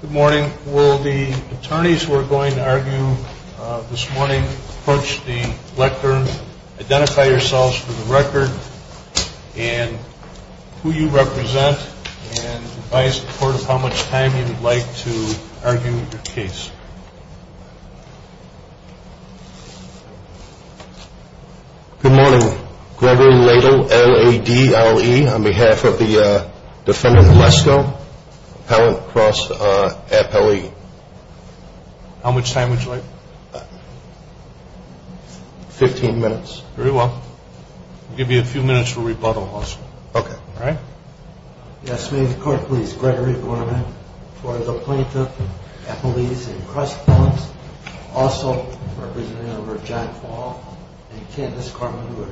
Good morning. Will the attorneys who are going to argue this morning approach the lectern, identify yourselves for the record, and who you represent, and advise the court of how much time you would like to argue your case. Good morning. Gregory Ladle, L-A-D-L-E, on behalf of the defendant Lesko, appellant cross appellee. How much time would you like? Fifteen minutes. Very well. I'll give you a few minutes for rebuttal also. Okay. All right. Yes, may the court please. Gregory Gorman, for the plaintiff, appellees and cross appellants. Also, representative for John Paul and Candace Gorman, who are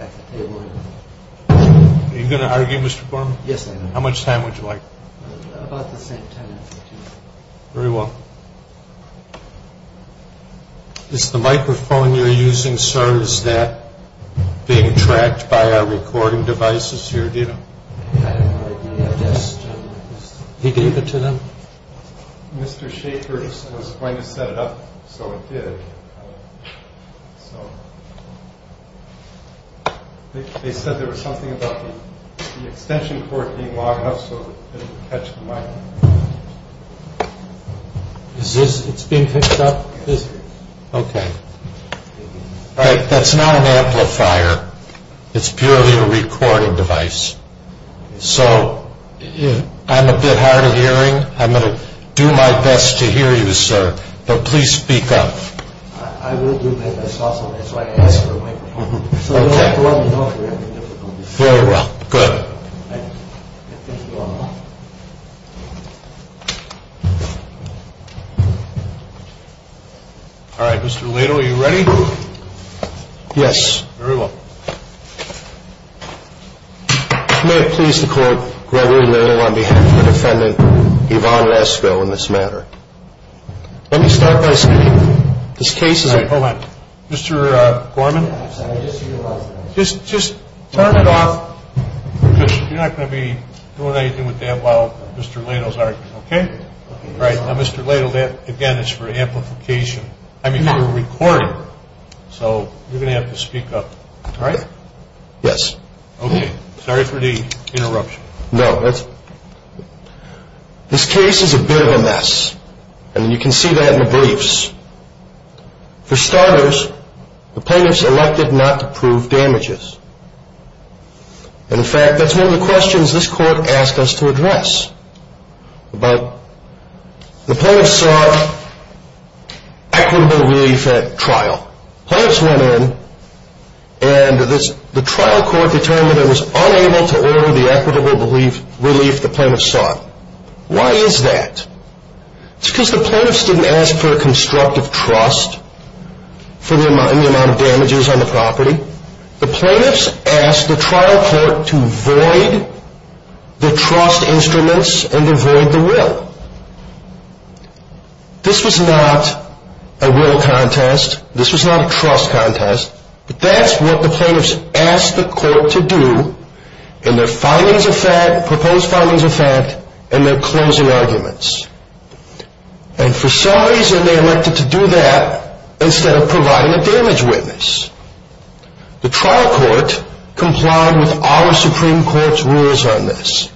at the table here. Are you going to argue, Mr. Gorman? Yes, I am. How much time would you like? About the same time. Very well. Is the microphone you're using, sir, is that being tracked by our recording devices here, do you know? I have no idea. He gave it to them? Mr. Shaker was going to set it up, so it did. So, they said there was something about the extension cord being long enough so it didn't catch the mic. Is this, it's being picked up? Okay. All right. That's not an amplifier. It's purely a recording device. So, I'm a bit hard of hearing. I'm going to do my best to hear you, sir, but please speak up. I will do my best also. That's why I asked for a microphone. Okay. So, let me know if you have any difficulties. Very well. Good. Thank you all. All right. Mr. Lato, are you ready? Yes. Very well. May it please the Court, Gregory Lato on behalf of the defendant, Yvonne Lesko, in this matter. Let me start by saying this case is a... All right. Hold on. Mr. Gorman? I'm sorry. I just see your microphone. Just turn it off because you're not going to be doing anything with that while Mr. Lato's arguing. Okay? All right. Now, Mr. Lato, that, again, is for amplification. I mean, for a recording. So, you're going to have to speak up. All right? Yes. Okay. Sorry for the interruption. No, that's... This case is a bit of a mess, and you can see that in the briefs. For starters, the plaintiffs elected not to prove damages. In fact, that's one of the questions this Court asked us to address. But the plaintiffs sought equitable relief at trial. Plaintiffs went in, and the trial court determined it was unable to order the equitable relief the plaintiffs sought. Why is that? It's because the plaintiffs didn't ask for a constructive trust in the amount of damages on the property. The plaintiffs asked the trial court to void the trust instruments and to void the will. This was not a will contest. This was not a trust contest. But that's what the plaintiffs asked the court to do in their findings of fact, proposed findings of fact, and their closing arguments. And for some reason, they elected to do that instead of providing a damage witness. The trial court complied with our Supreme Court's rules on this.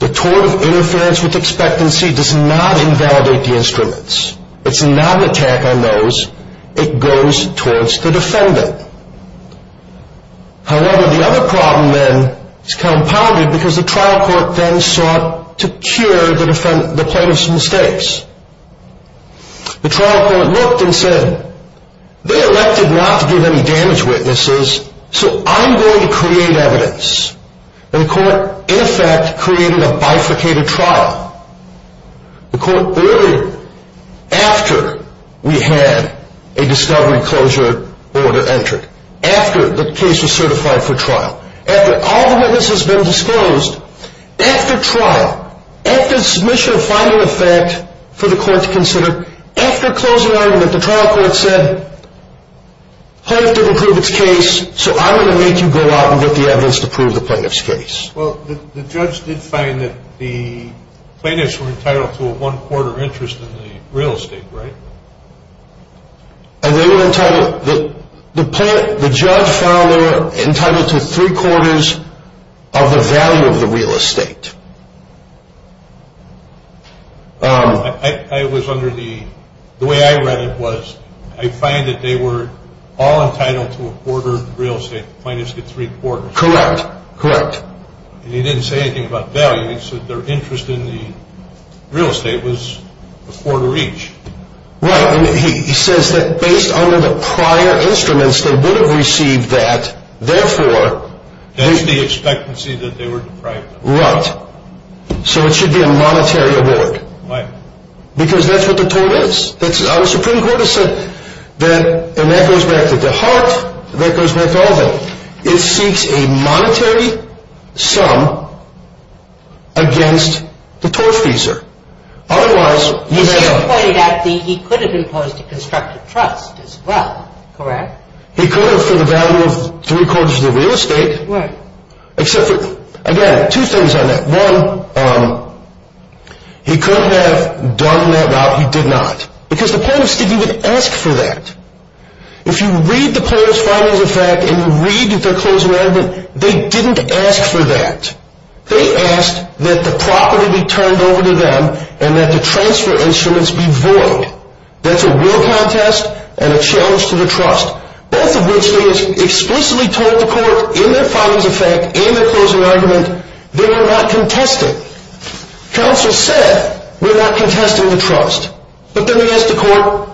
The tort of interference with expectancy does not invalidate the instruments. It's not an attack on those. It goes towards the defendant. However, the other problem then is compounded because the trial court then sought to cure the plaintiffs' mistakes. The trial court looked and said, they elected not to give any damage witnesses, so I'm going to create evidence. And the court, in effect, created a bifurcated trial. The court, earlier, after we had a discovery closure order entered, after the case was certified for trial, after all the witness has been disclosed, after trial, after submission of finding of fact for the court to consider, after closing argument, the trial court said, plaintiff didn't prove its case, so I'm going to make you go out and get the evidence to prove the plaintiff's case. Well, the judge did find that the plaintiffs were entitled to a one-quarter interest in the real estate, right? And they were entitled, the judge found they were entitled to three-quarters of the value of the real estate. I was under the, the way I read it was, I find that they were all entitled to a quarter of the real estate, the plaintiffs get three-quarters. Correct, correct. And he didn't say anything about value, he said their interest in the real estate was a quarter each. Right, and he says that based on the prior instruments, they would have received that, therefore. That's the expectancy that they were deprived of. Right, so it should be a monetary award. Right. Because that's what the tort is. The Supreme Court has said that, and that goes back to DeHart, that goes back to Alvin, it seeks a monetary sum against the tortfeasor. Otherwise, you have to. But you pointed out that he could have imposed a constructive trust as well, correct? He could have for the value of three-quarters of the real estate. Right. Except for, again, two things on that. One, he could have done that route, he did not. Because the plaintiffs didn't even ask for that. If you read the plaintiff's findings of fact and you read their closing argument, they didn't ask for that. They asked that the property be turned over to them and that the transfer instruments be void. That's a will contest and a challenge to the trust. Both of which they explicitly told the court in their findings of fact, in their closing argument, they were not contesting. Counsel said, we're not contesting the trust. But then they asked the court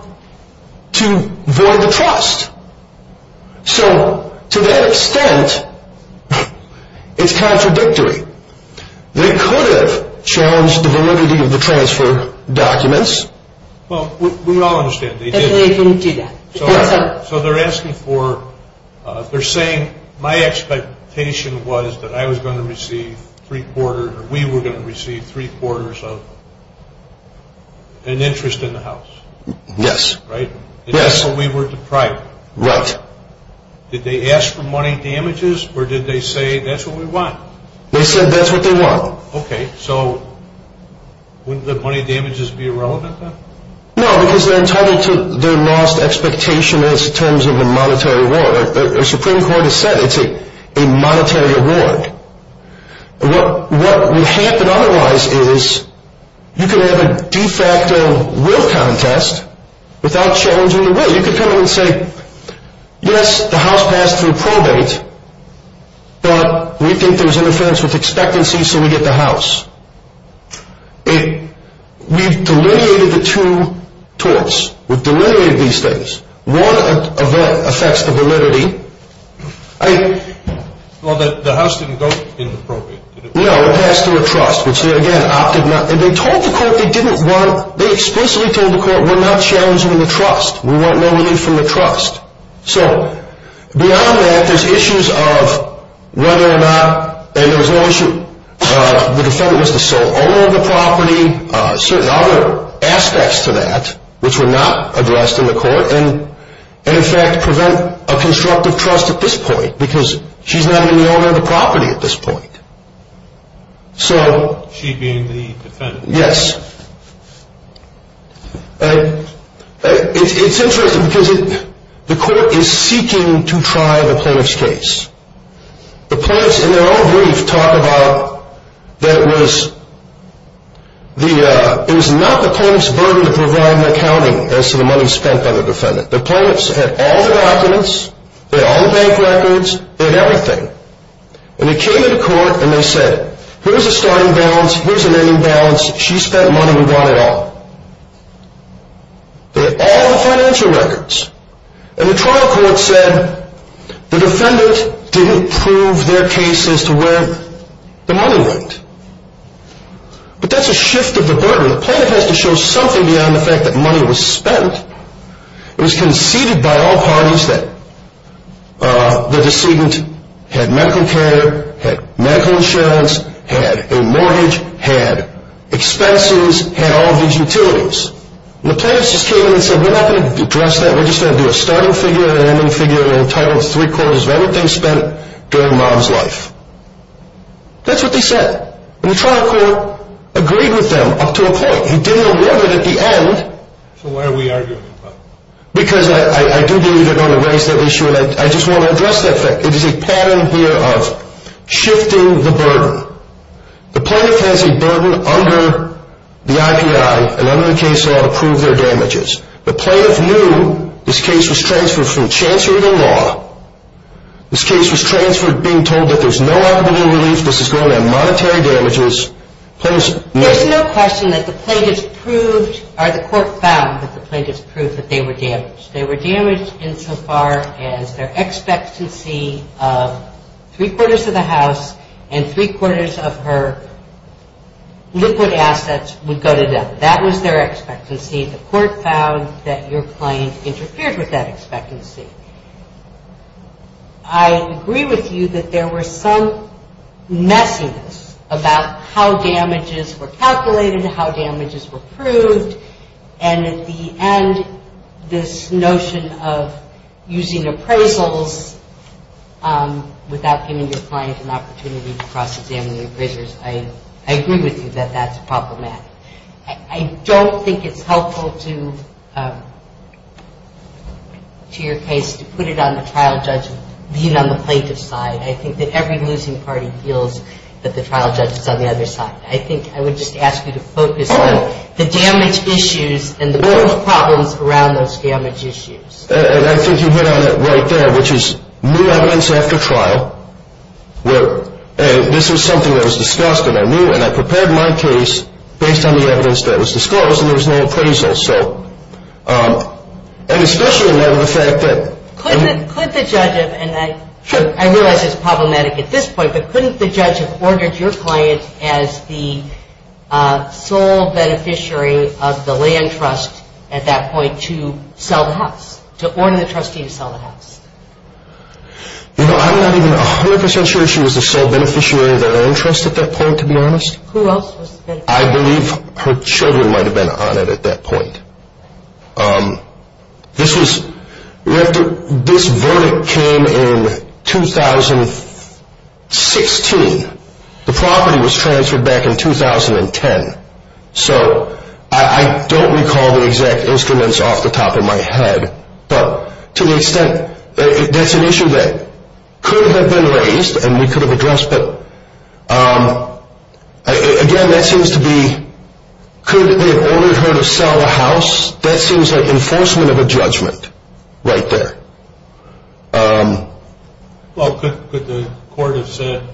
to void the trust. So to that extent, it's contradictory. They could have challenged the validity of the transfer documents. Well, we all understand they didn't. So they're asking for, they're saying my expectation was that I was going to receive three-quarters, or we were going to receive three-quarters of an interest in the house. Yes. Right? Yes. And that's what we were deprived of. Right. Did they ask for money damages or did they say that's what we want? They said that's what they want. Okay. So wouldn't the money damages be irrelevant then? No, because they're entitled to their lost expectation in terms of a monetary reward. The Supreme Court has said it's a monetary reward. What would happen otherwise is you could have a de facto will contest without challenging the will. You could come in and say, yes, the house passed through probate, but we think there's interference with expectancy, so we get the house. We've delineated the two torts. We've delineated these things. One of them affects the validity. Well, the house didn't go in the probate, did it? No, it passed through a trust, which again, opted not, and they told the court they didn't want, they explicitly told the court we're not challenging the trust. We want no relief from the trust. So beyond that, there's issues of whether or not, and there was no issue, the defendant was the sole owner of the property, certain other aspects to that, which were not addressed in the court, and in fact prevent a constructive trust at this point, because she's not in the owner of the property at this point. She being the defendant? Yes. It's interesting because the court is seeking to try the plaintiff's case. The plaintiffs in their own brief talk about that it was not the plaintiff's burden to provide an accounting as to the money spent by the defendant. The plaintiffs had all the documents, they had all the bank records, they had everything, and they came to the court and they said, here's a starting balance, here's an ending balance. She spent money, we want it all. They had all the financial records. And the trial court said the defendant didn't prove their case as to where the money went. But that's a shift of the burden. The plaintiff has to show something beyond the fact that money was spent. It was conceded by all parties that the decedent had medical care, had medical insurance, had a mortgage, had expenses, had all these utilities. And the plaintiffs just came in and said we're not going to address that, we're just going to do a starting figure, an ending figure, entitled three quarters of everything spent during mom's life. That's what they said. And the trial court agreed with them up to a point. He didn't arrive at the end. So why are we arguing about it? Because I do believe they're going to raise that issue and I just want to address that fact. It is a pattern here of shifting the burden. The plaintiff has a burden under the IPI and under the case law to prove their damages. The plaintiff knew this case was transferred from chancery to law. This case was transferred being told that there's no out-of-bidding relief, this is going to have monetary damages. There's no question that the court found that the plaintiffs proved that they were damaged. They were damaged insofar as their expectancy of three quarters of the house and three quarters of her liquid assets would go to them. That was their expectancy. The court found that your client interfered with that expectancy. I agree with you that there was some messiness about how damages were calculated, how damages were proved, and at the end this notion of using appraisals without giving your client an opportunity to cross-examine the appraisers. I agree with you that that's proper math. I don't think it's helpful to your case to put it on the trial judge being on the plaintiff's side. I think that every losing party feels that the trial judge is on the other side. I think I would just ask you to focus on the damage issues and the problems around those damage issues. I think you hit on it right there, which is new evidence after trial. This was something that was discussed and I prepared my case based on the evidence that was discussed and there was no appraisal. Could the judge have, and I realize it's problematic at this point, but couldn't the judge have ordered your client as the sole beneficiary of the land trust at that point to sell the house, to order the trustee to sell the house? I'm not even 100% sure she was the sole beneficiary of the land trust at that point, to be honest. Who else was the beneficiary? I believe her children might have been on it at that point. This verdict came in 2016. The property was transferred back in 2010. So I don't recall the exact instruments off the top of my head, but to the extent that's an issue that could have been raised and we could have addressed, but again, that seems to be, could they have ordered her to sell the house? That seems like enforcement of a judgment right there. Well, could the court have said,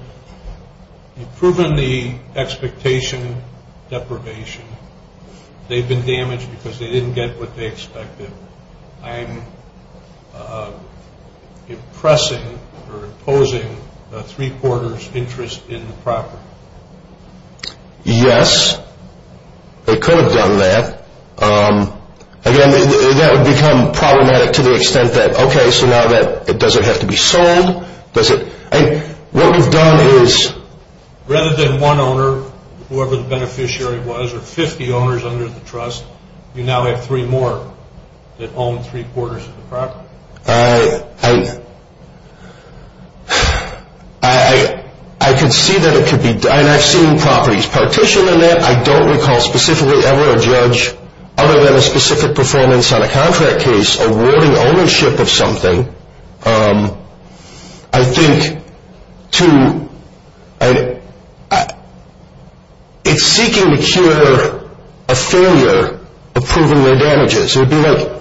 you've proven the expectation deprivation. They've been damaged because they didn't get what they expected. I'm impressing or opposing a three-quarters interest in the property. Yes, they could have done that. Again, that would become problematic to the extent that, okay, so now it doesn't have to be sold. What we've done is rather than one owner, whoever the beneficiary was, or 50 owners under the trust, you now have three more that own three-quarters of the property. I could see that it could be done. I've seen properties partitioned on that. I don't recall specifically ever a judge, other than a specific performance on a contract case, awarding ownership of something. I think it's seeking to cure a failure of proving their damages. It would be like,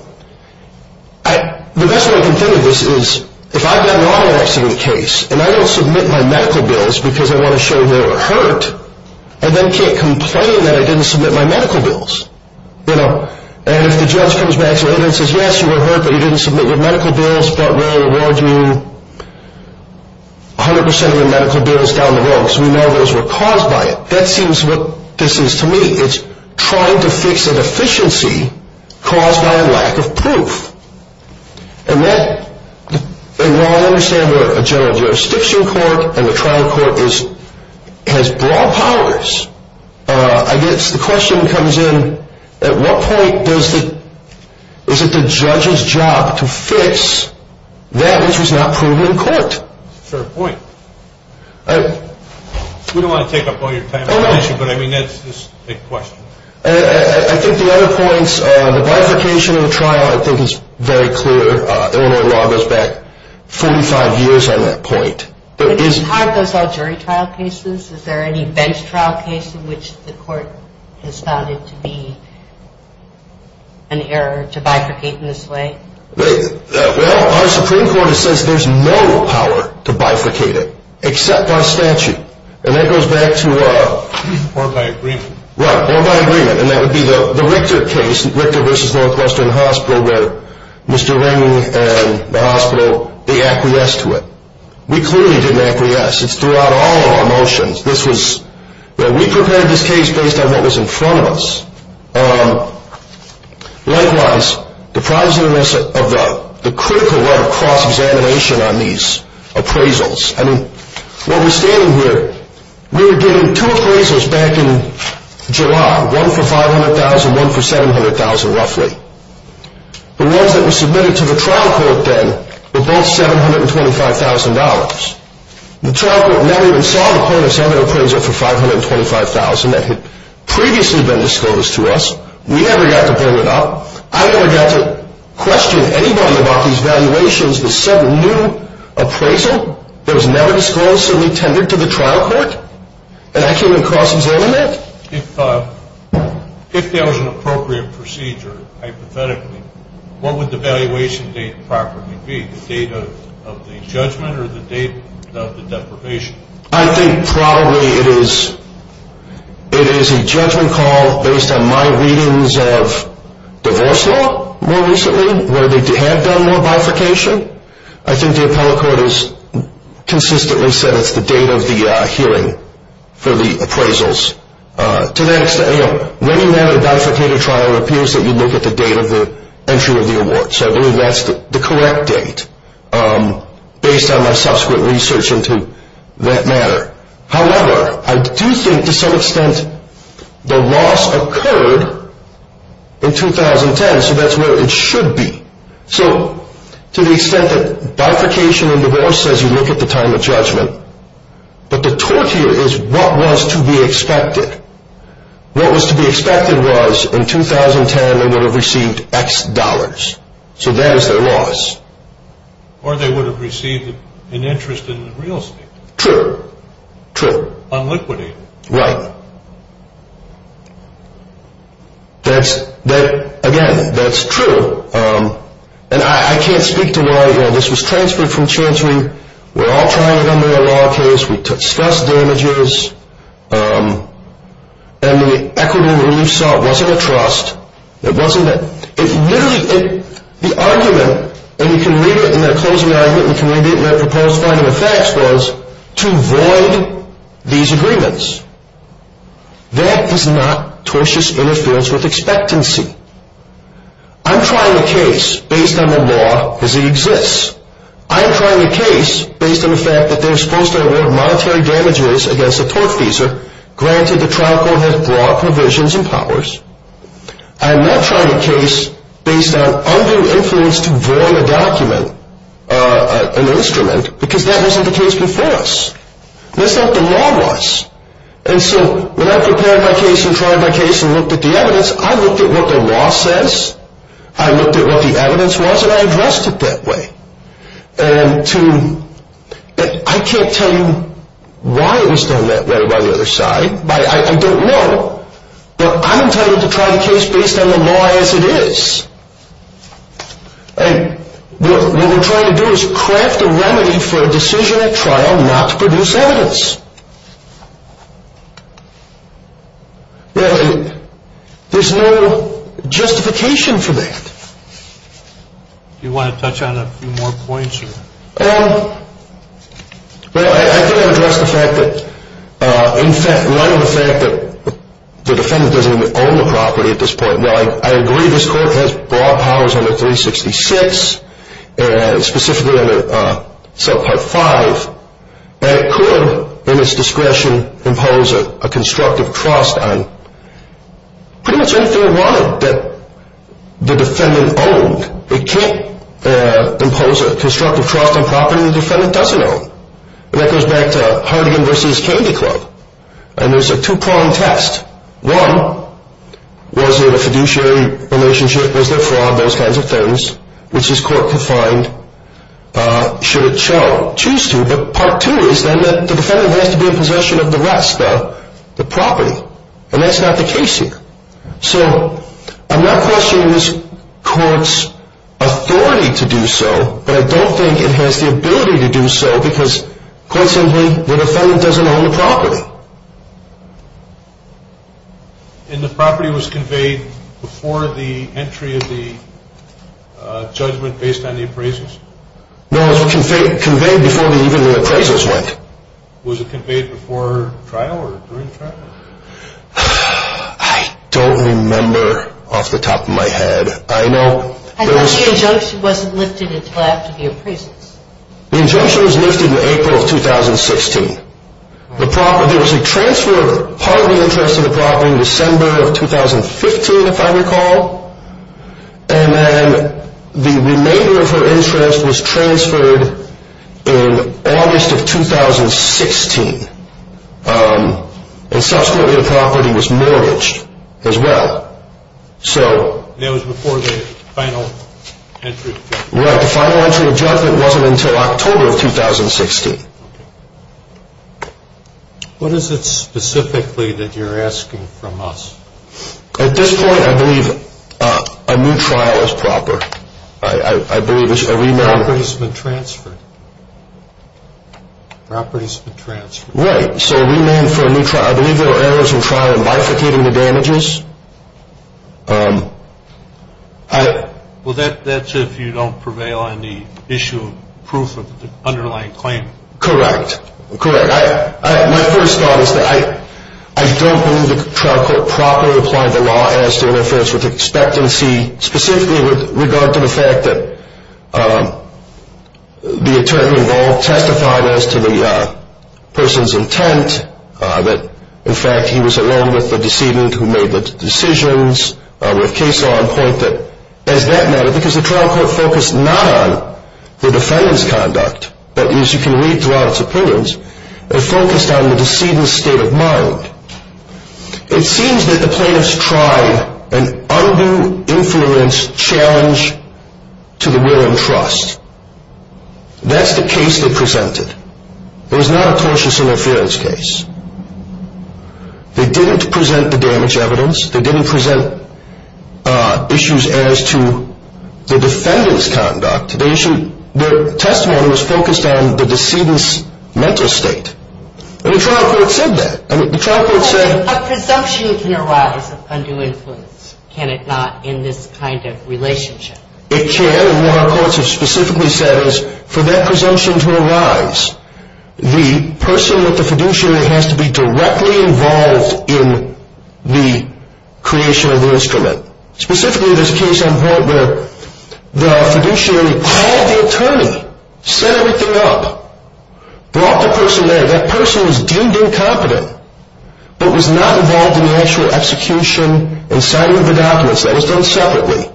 the best way I can think of this is, if I've got an auto accident case and I don't submit my medical bills because I want to show they were hurt, I then can't complain that I didn't submit my medical bills. And if the judge comes back to me and says, yes, you were hurt, but you didn't submit your medical bills, but we're going to award you 100 percent of your medical bills down the road because we know those were caused by it, that seems what this is to me. It's trying to fix a deficiency caused by a lack of proof. And while I understand a general jurisdiction court and a trial court has broad powers, I guess the question comes in, at what point is it the judge's job to fix that which was not proven in court? That's a fair point. We don't want to take up all your time on that issue, but I mean, that's a big question. I think the other points, the bifurcation of the trial I think is very clear. Illinois law goes back 45 years on that point. But is it hard to solve jury trial cases? Is there any bench trial case in which the court has found it to be an error to bifurcate in this way? Well, our Supreme Court says there's no power to bifurcate it except by statute. And that goes back to a board by agreement. And that would be the Richter case, Richter v. Northwestern Hospital, where Mr. Ring and the hospital, they acquiesced to it. We clearly didn't acquiesce. It's throughout all of our motions. We prepared this case based on what was in front of us. Likewise, the problems of the critical level cross-examination on these appraisals. I mean, while we're standing here, we were given two appraisals back in July, one for $500,000, one for $700,000 roughly. The ones that were submitted to the trial court then were both $725,000. The trial court never even saw the point of sending an appraisal for $525,000 that had previously been disclosed to us. We never got to bring it up. I never got to question anybody about these valuations that said a new appraisal that was never disclosedly tendered to the trial court. And I came in cross-examined it. If there was an appropriate procedure, hypothetically, what would the valuation date properly be? The date of the judgment or the date of the deprivation? I think probably it is a judgment call based on my readings of divorce law more recently where they had done more bifurcation. I think the appellate court has consistently said it's the date of the hearing for the appraisals. To that extent, you know, when you have a bifurcated trial, it appears that you look at the date of the entry of the award. So I believe that's the correct date based on my subsequent research into that matter. However, I do think to some extent the loss occurred in 2010, so that's where it should be. So to the extent that bifurcation in divorce says you look at the time of judgment, but the tort here is what was to be expected. What was to be expected was in 2010 they would have received X dollars. So that is their loss. Or they would have received an interest in real estate. True, true. Unliquidated. Right. That's, again, that's true. And I can't speak to why this was transferred from chancery. We're all trying to come to a law case. We discussed damages. And the equitable relief sought wasn't a trust. It wasn't a, it literally, the argument, and you can read it in that closing argument, and you can read it in that proposed final effects was to void these agreements. That is not tortious interference with expectancy. I'm trying a case based on the law as it exists. I'm trying a case based on the fact that they're supposed to award monetary damages against a tortfeasor, granted the trial court has broad provisions and powers. I'm not trying a case based on undue influence to void a document, an instrument, because that wasn't the case before us. That's not what the law was. And so when I prepared my case and tried my case and looked at the evidence, I looked at what the law says, I looked at what the evidence was, and I addressed it that way. And to, I can't tell you why it was done that way by the other side. I don't know. But I'm entitled to try the case based on the law as it is. And what we're trying to do is craft a remedy for a decision at trial not to produce evidence. There's no justification for that. Do you want to touch on a few more points? Well, I think I addressed the fact that, in fact, in light of the fact that the defendant doesn't even own the property at this point. Well, I agree this court has broad powers under 366 and specifically under part 5. And it could, in its discretion, impose a constructive trust on pretty much anything it wanted that the defendant owned. It can't impose a constructive trust on property the defendant doesn't own. And that goes back to Harding v. Candy Club. And there's a two-pronged test. One, was it a fiduciary relationship? Was there fraud? Those kinds of things, which this court could find should it choose to. But part two is then that the defendant has to be in possession of the rest, the property. And that's not the case here. So I'm not questioning this court's authority to do so, but I don't think it has the ability to do so because, quite simply, the defendant doesn't own the property. And the property was conveyed before the entry of the judgment based on the appraisals? No, it was conveyed before even the appraisals went. Was it conveyed before trial or during trial? I don't remember off the top of my head. I thought the injunction wasn't lifted until after the appraisals. The injunction was lifted in April of 2016. There was a transfer of part of the interest of the property in December of 2015, if I recall. And then the remainder of her interest was transferred in August of 2016. And subsequently the property was mortgaged as well. And that was before the final entry? Right. The final entry of judgment wasn't until October of 2016. Okay. What is it specifically that you're asking from us? At this point, I believe a new trial is proper. I believe it's a remand. The property has been transferred. The property has been transferred. Right. So remand for a new trial. I believe there were errors in trial in bifurcating the damages. Well, that's if you don't prevail on the issue of proof of the underlying claim. Correct. Correct. My first thought is that I don't believe the trial court properly applied the law as to interference with expectancy, specifically with regard to the fact that the attorney involved testified as to the person's intent, that, in fact, he was alone with the decedent who made the decisions, with case law in point that, as that matter, because the trial court focused not on the defendant's conduct, but, as you can read throughout its appearance, it focused on the decedent's state of mind. It seems that the plaintiffs tried an undue influence challenge to the will and trust. That's the case they presented. It was not a cautious interference case. They didn't present the damage evidence. They didn't present issues as to the defendant's conduct. Their testimony was focused on the decedent's mental state. And the trial court said that. A presumption can arise of undue influence, can it not, in this kind of relationship? It can. And what our courts have specifically said is, for that presumption to arise, the person with the fiduciary has to be directly involved in the creation of the instrument. Specifically, there's a case in point where the fiduciary called the attorney, set everything up, brought the person there. That person was deemed incompetent, but was not involved in the actual execution and signing of the documents. That was done separately.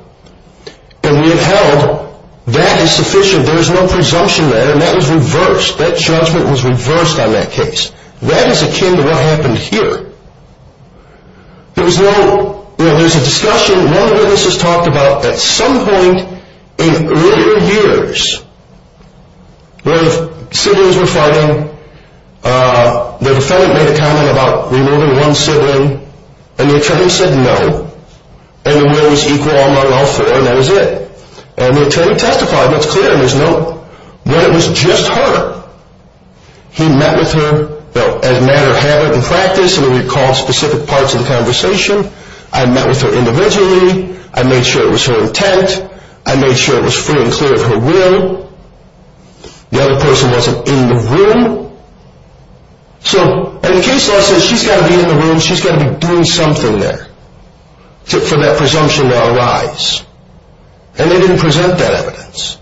And we have held that is sufficient. There is no presumption there. And that was reversed. That judgment was reversed on that case. That is akin to what happened here. There's a discussion. One of the witnesses talked about at some point in earlier years, where the siblings were fighting, the defendant made a comment about removing one sibling, and the attorney said no. And the will was equal among all four, and that was it. And the attorney testified, and it's clear, and there's no, but it was just her. He met with her, as a matter of habit and practice, and recalled specific parts of the conversation. I met with her individually. I made sure it was her intent. I made sure it was free and clear of her will. The other person wasn't in the room. So in case law says she's got to be in the room, she's got to be doing something there for that presumption to arise. And they didn't present that evidence.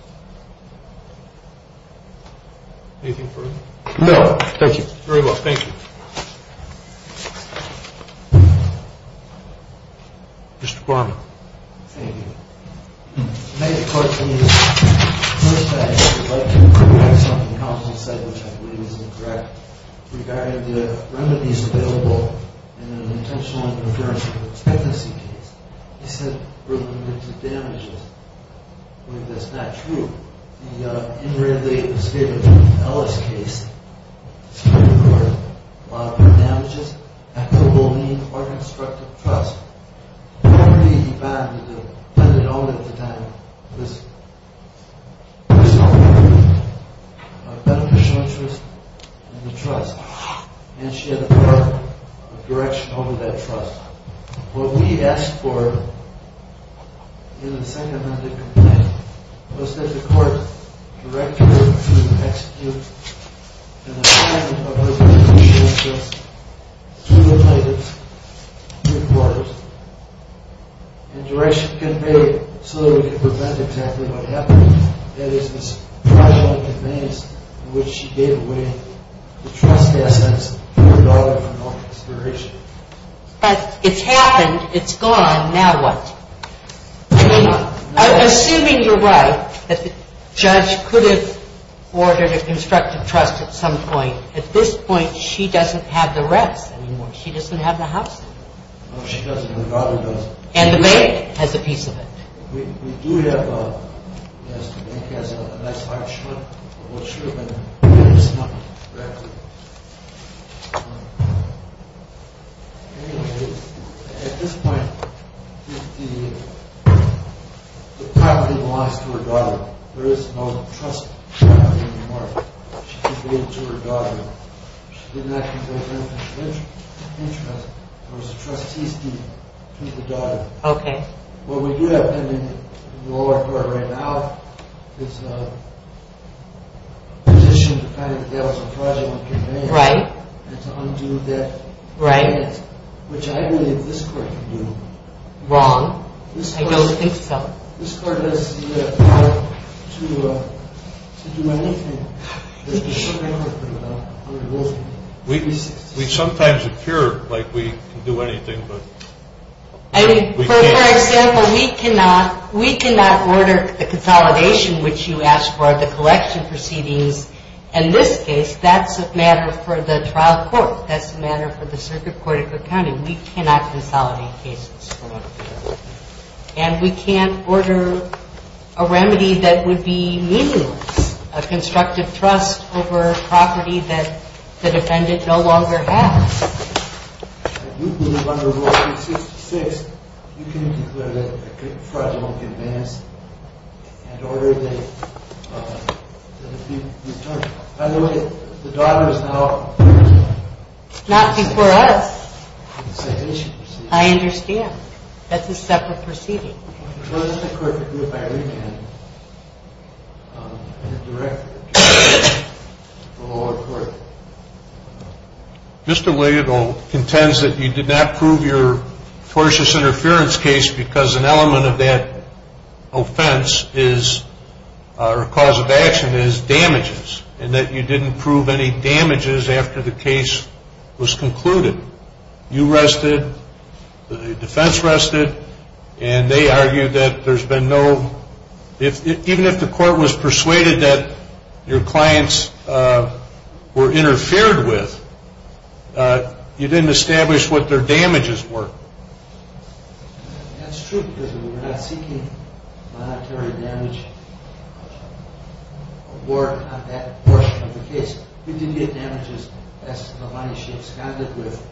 Anything further? No. Thank you. Very well. Thank you. Mr. Kwan. Thank you. The negative part to me is, first, I would like to correct something Counselor said, which I believe is incorrect, regarding the remedies available in an intentional interference with expectancy case. He said there were limited damages. I believe that's not true. In the in-related misdemeanor to the Ellis case, there were a lot of damages, equitable means, or constructive trust. The only bond that was lended only at the time was a beneficial interest in the trust. And she had a court of direction over that trust. What we asked for in the second amendment complaint was that the court direct her to execute an assignment to the plaintiff's new court. And direction conveyed so that we could prevent exactly what happened. That is, this pressure on conveyance in which she gave away the trust assets to her daughter for no consideration. But it's happened, it's gone, now what? Assuming you're right, that the judge could have ordered a constructive trust at some point, at this point, she doesn't have the rest anymore. She doesn't have the house anymore. No, she doesn't, her daughter doesn't. And the bank has a piece of it. We do have a, yes, the bank has a nice high and short, but what should have been is not exactly. Anyway, at this point, the property belongs to her daughter. There is no trust property anymore. She conveyed it to her daughter. She did not convey anything of interest. There was a trustee's deed to the daughter. Okay. What we do have pending in the lower court right now is a position to find out that that was a fraudulent conveyance. Right. And to undo that. Right. Which I believe this court can do. Wrong. I don't think so. This court has the power to do anything. We sometimes appear like we can do anything, but we can't. For example, we cannot order the consolidation, which you asked for the collection proceedings. In this case, that's a matter for the trial court. That's a matter for the circuit court accounting. We cannot consolidate cases. And we can't order a remedy that would be meaningless, a constructive trust over property that the defendant no longer has. If you believe under Rule 366, you can declare that a fraudulent conveyance and order that it be returned. By the way, the daughter is now... Not before us. I understand. That's a separate proceeding. Well, this is a court that did it by revamp, and it's directed to the lower court. Mr. Williams contends that you did not prove your tortious interference case because an element of that offense is, or cause of action is, damages, and that you didn't prove any damages after the case was concluded. You rested, the defense rested, and they argued that there's been no... Even if the court was persuaded that your clients were interfered with, you didn't establish what their damages were. That's true because we were not seeking monetary damage or work on that portion of the case. We did get damages as to the money she absconded with.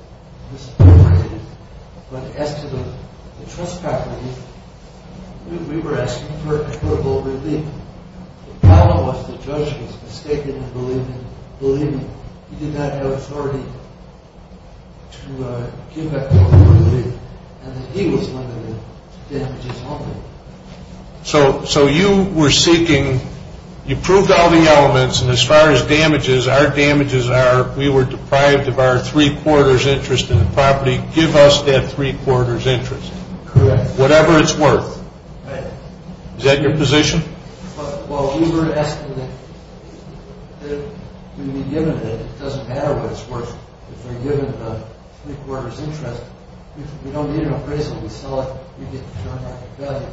But as to the trust property, we were asking for a favorable relief. The problem was the judge was mistaken in believing he did not have authority to give that favorable relief, and that he was limited to damages only. So you were seeking... We were deprived of our three-quarters interest in the property. Give us that three-quarters interest. Correct. Whatever it's worth. Right. Is that your position? Well, we were asking that if we were given it, it doesn't matter what it's worth. If we're given the three-quarters interest, we don't need an appraisal. We sell it. We get the joint market value.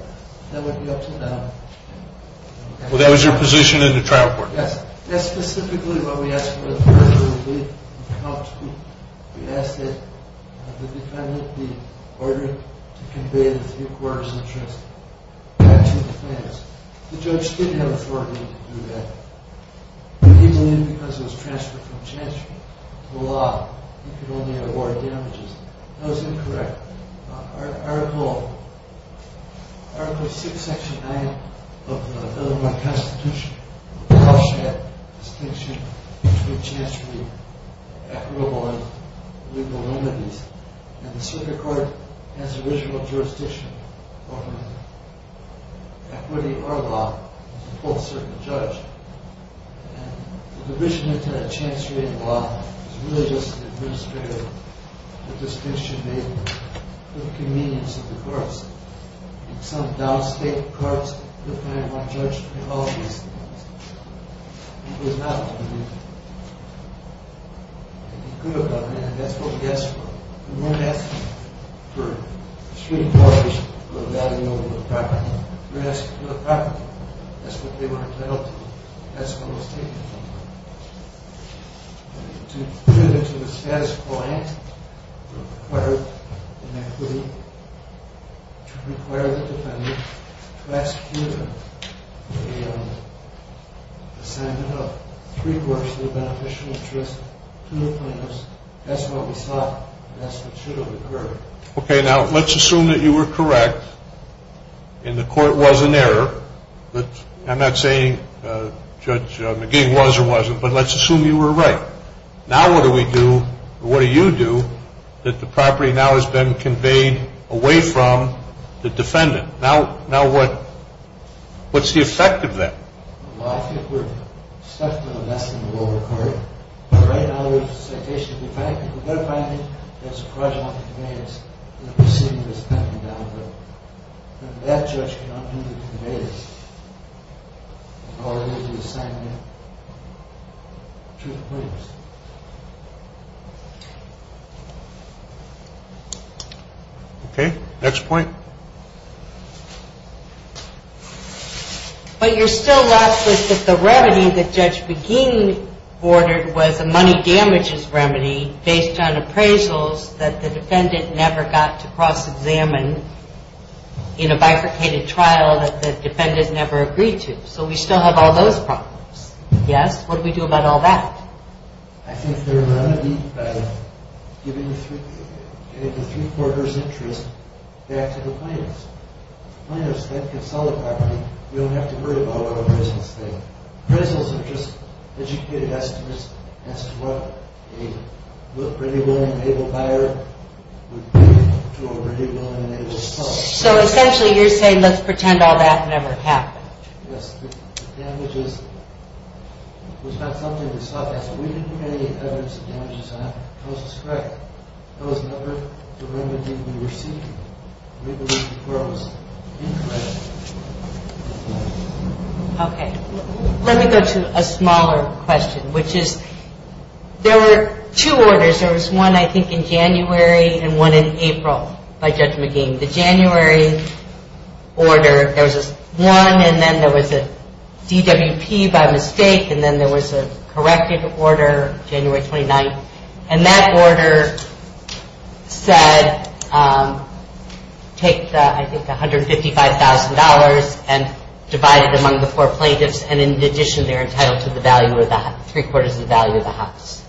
That would be up to them. Well, that was your position in the trial court. Yes. That's specifically what we asked for the favorable relief. We asked that the defendant be ordered to convey the three-quarters interest. That's what the plan is. The judge didn't have authority to do that. He believed because it was transferred from chance to law, he could only award damages. That was incorrect. Article 6, Section 9 of the Illinois Constitution would caution that distinction between chancery, equitable, and legal limities. And the circuit court has original jurisdiction over equity or law as a full circuit judge. And the provision of chancery in the law is really just an administrative distinction made for the convenience of the courts. In some downstate courts, the client might judge for all these things. It was not intended. It could have been, and that's what we asked for. We weren't asking for three-quarters of the value of the property. We were asking for the property. That's what they were entitled to. That's what was taken from them. To put it to the status quo, we required the equity to require the defendant to execute an assignment of three-quarters of the beneficial interest to the plaintiffs. That's what we sought. That's what should have occurred. Okay, now let's assume that you were correct and the court was in error. I'm not saying Judge McGee was or wasn't, but let's assume you were right. Now what do we do, or what do you do, that the property now has been conveyed away from the defendant? Now what's the effect of that? Well, I think we're stuck to the lesson of the lower court. Right now, there's a citation of the defendant. We've got to find out if there's a fraudulent conveyance in the proceeding that's pending down the road. That judge can undo the conveyance and already be assigned to the plaintiffs. Okay, next point. But you're still left with the remedy that Judge McGee ordered was a money damages remedy based on appraisals that the defendant never got to cross-examine in a bifurcated trial that the defendant never agreed to. So we still have all those problems. Yes? What do we do about all that? I think there's a remedy by giving the three-quarters interest back to the plaintiffs. The plaintiffs then can sell the property. We don't have to worry about what appraisals take. Appraisals are just educated estimates as to what a pretty well-enabled buyer would pay to a pretty well-enabled client. So essentially, you're saying let's pretend all that never happened. Yes. The damages was not something to stop us. We didn't have any evidence of damages on it. It was a strike. It was never the remedy we were seeking. We believe the court was incorrect. Okay. Let me go to a smaller question, which is there were two orders. There was one, I think, in January and one in April by Judge McGee. The January order, there was one, and then there was a DWP by mistake, and then there was a corrected order January 29th, and that order said take, I think, $155,000 and divide it among the four plaintiffs, and in addition, they're entitled to three-quarters of the value of the house.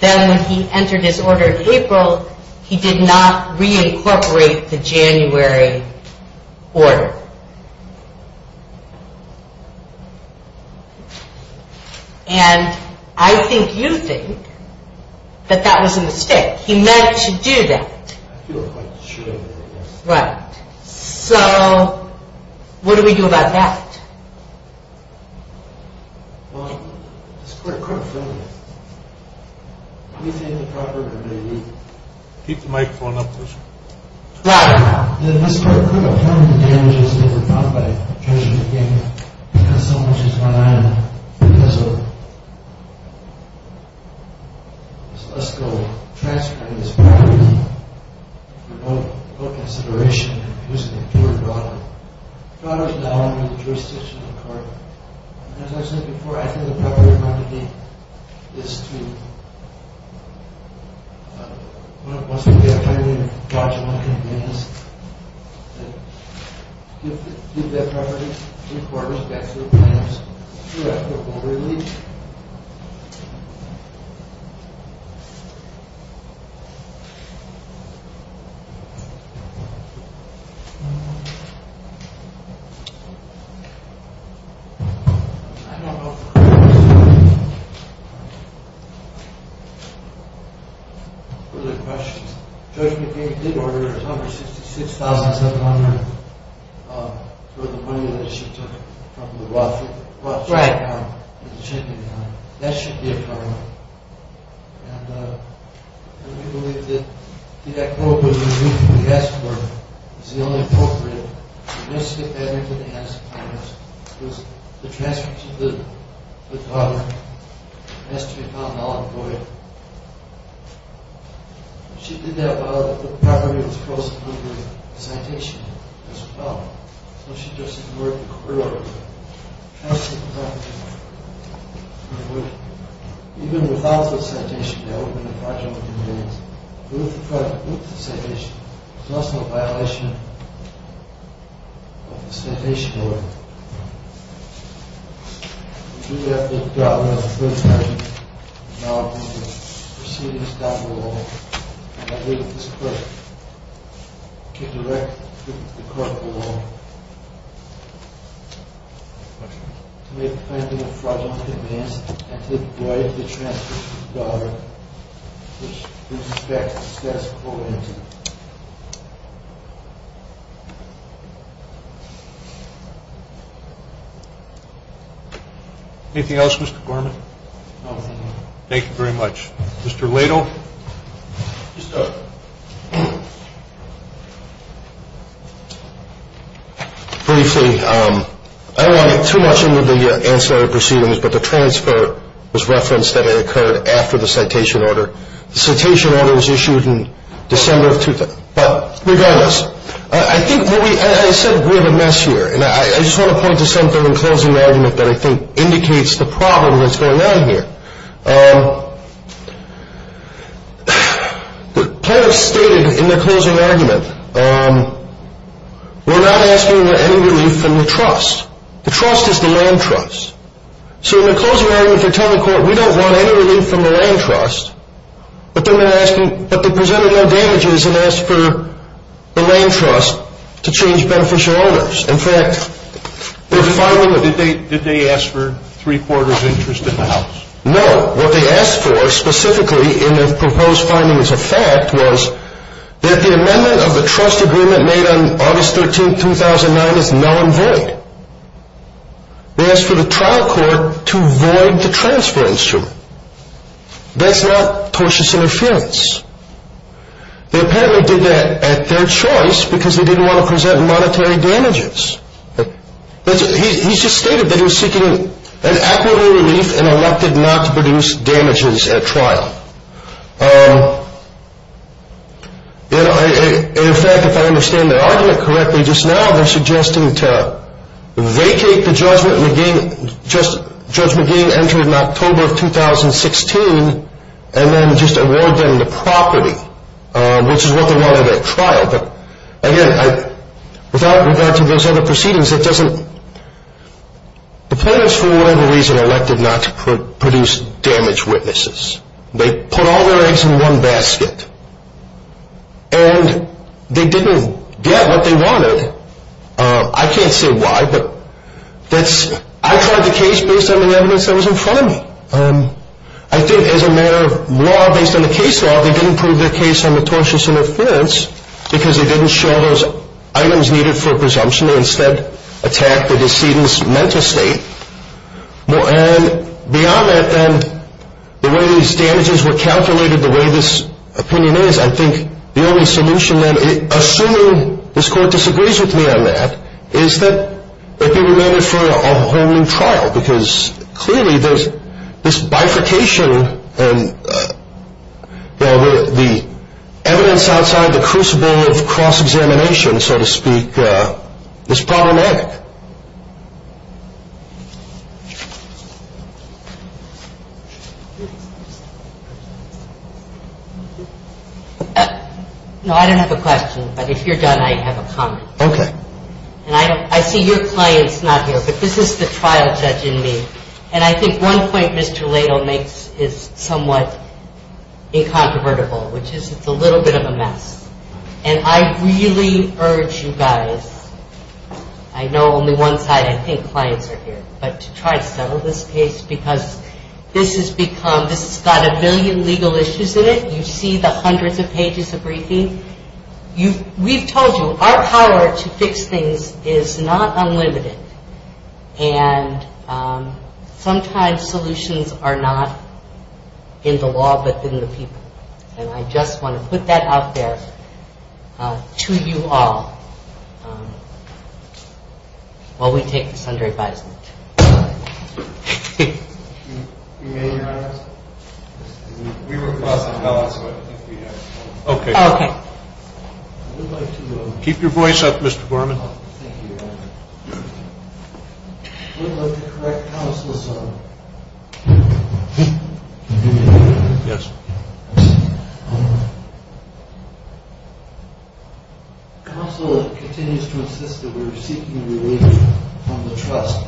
Then when he entered his order in April, he did not reincorporate the January order. And I think you think that that was a mistake. He meant to do that. I feel quite sure of it. Right. So what do we do about that? Keep the microphone up, please. Right. Here's an important problem. The problem is now under the jurisdiction of the court. And as I said before, I think the proper remedy is to when it wants to be a highly gaugeable convenience, give that property, three-quarters, back to the plaintiffs who are at the orderly. Any other questions? Judge McCain did order a number, $66,700, for the money that she took from the Rothschild account. Right. The checking account. That should be a problem. And we believe that the echo of what we asked for and that's the only way to get the property back. It must get back into the hands of the plaintiffs because the transfer to the daughter has to be found out in court. She did that while the property was closed under a citation as well. So she just ignored the court order. The transfer of the property. Even without the citation, that would have been a fraudulent convenience. But with the citation, it's also a violation of the citation order. We do have the daughter on the first page. Now the proceedings down below. And I believe this clerk can direct the clerk below to make the plaintiff a fraudulent convenience and to avoid the transfer to the daughter which is a status quo incident. Anything else, Mr. Gorman? No, thank you. Thank you very much. Mr. Lato? Yes, sir. Briefly, I don't want to get too much into the ancillary proceedings, but the transfer was referenced that it occurred after the citation order. The citation order was issued in December of 2000. But regardless, I said we're the mess here. And I just want to point to something in closing argument that I think indicates the problem that's going on here. The plaintiff stated in their closing argument, we're not asking for any relief from the trust. The trust is the land trust. So in the closing argument, they're telling the court, we don't want any relief from the land trust. But then they're asking, but they presented no damages and asked for the land trust to change beneficial owners. In fact, they're filing a... Did they ask for three quarters interest in the house? No. What they asked for specifically in the proposed findings of fact was that the amendment of the trust agreement made on August 13, 2009 is non-void. They asked for the trial court to void the transfer instrument. That's not tortuous interference. They apparently did that at their choice because they didn't want to present monetary damages. He's just stated that he was seeking an equitable relief and elected not to produce damages at trial. In fact, if I understand their argument correctly just now, they're suggesting to vacate the judgment and again, Judge McGee entered in October of 2016 and then just award them the property, which is what they wanted at trial. But again, without regard to those other proceedings, it doesn't... The plaintiffs, for whatever reason, elected not to produce damage witnesses. They put all their eggs in one basket and they didn't get what they wanted. I can't say why, but that's... I tried the case based on the evidence that was in front of me. I think as a matter of law, based on the case law, they didn't prove their case on the tortuous interference because they didn't show those items needed for presumption. They instead attacked the decedent's mental state. And beyond that, the way these damages were calculated, the way this opinion is, I think the only solution then, assuming this Court disagrees with me on that, is that they be remanded for a whole new trial because clearly there's this bifurcation and the evidence outside the crucible of cross-examination, so to speak, is problematic. No, I don't have a question, but if you're done, I have a comment. Okay. And I see your client's not here, but this is the trial judge in me. And I think one point Mr. Ladle makes is somewhat incontrovertible, which is it's a little bit of a mess. And I really urge you guys, I know only one side, I think clients are here, but to try to settle this case because this has become... This has got a million legal issues in it. You see the hundreds of pages of briefing. We've told you our power to fix things is not unlimited. And sometimes solutions are not in the law but in the people. And I just want to put that out there to you all while we take this under advisement. You may rise. We were crossing balance, but I think we have... Okay. I would like to... Keep your voice up, Mr. Borman. Thank you. I would like to correct counsel, sir. Yes. Counsel continues to insist that we're seeking relief from the trust.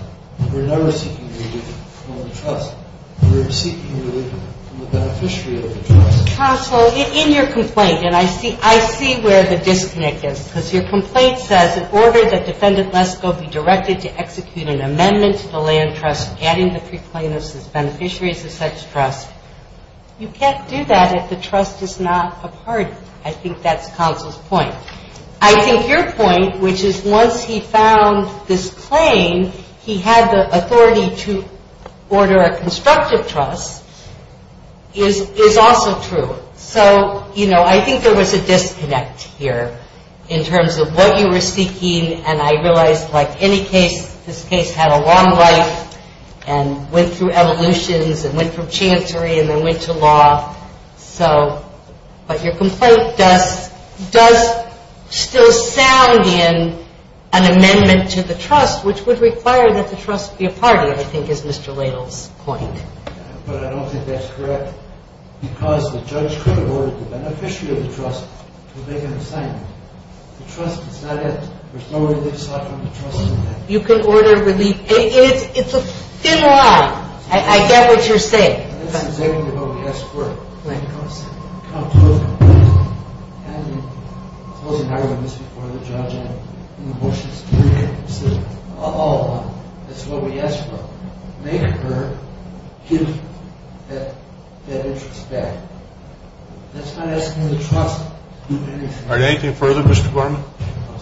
We're never seeking relief from the trust. We're seeking relief from the beneficiary of the trust. Counsel, in your complaint, and I see where the disconnect is because your complaint says, in order that Defendant Lesko be directed to execute an amendment to the land trust adding the preplainers as beneficiaries of such trust, you can't do that if the trust is not a party. I think that's counsel's point. I think your point, which is once he found this claim, he had the authority to order a constructive trust, is also true. So, you know, I think there was a disconnect here in terms of what you were seeking, and I realize, like any case, this case had a long life and went through evolutions and went from chancery and then went to law. So, but your complaint does still sound in an amendment to the trust, which would require that the trust be a party, I think, is Mr. Ladle's point. But I don't think that's correct because the judge could have ordered the beneficiary of the trust to make an assignment. The trust is not it. There's no relief sought from the trust in that. You can order relief. It's a thin line. I get what you're saying. That's exactly what we asked for. Thank you, counsel. Counsel, I told you this before. The judge, in the motions, said, oh, that's what we asked for. Make her give that interest back. That's not asking the trust to do anything. All right. Anything further, Mr. Borman? I'll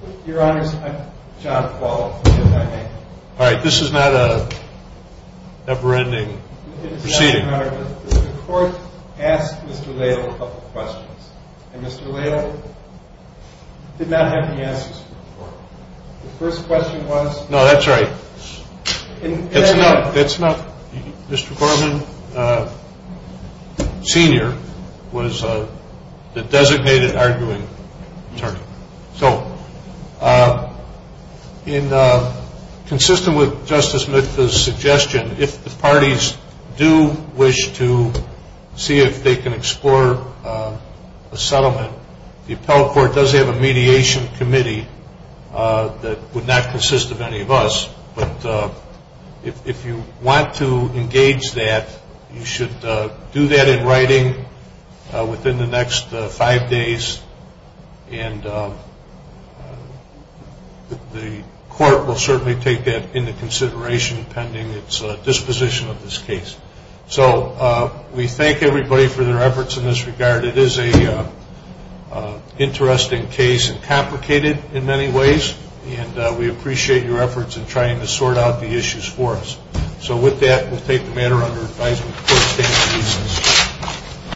speak. Your Honor, I'm John Quall. All right. This is not a never-ending proceeding. Your Honor, the court asked Mr. Ladle a couple of questions, and Mr. Ladle did not have the answers for the court. The first question was... No, that's right. That's not... Mr. Borman Sr. was the designated arguing attorney. So, consistent with Justice Smith's suggestion, if the parties do wish to see if they can explore a settlement, the appellate court does have a mediation committee that would not consist of any of us. But if you want to engage that, you should do that in writing within the next five days and the court will certainly take that into consideration pending its disposition of this case. So, we thank everybody for their efforts in this regard. It is an interesting case and complicated in many ways, and we appreciate your efforts in trying to sort out the issues for us. So, with that, we'll take the matter under advisement. The court is adjourned.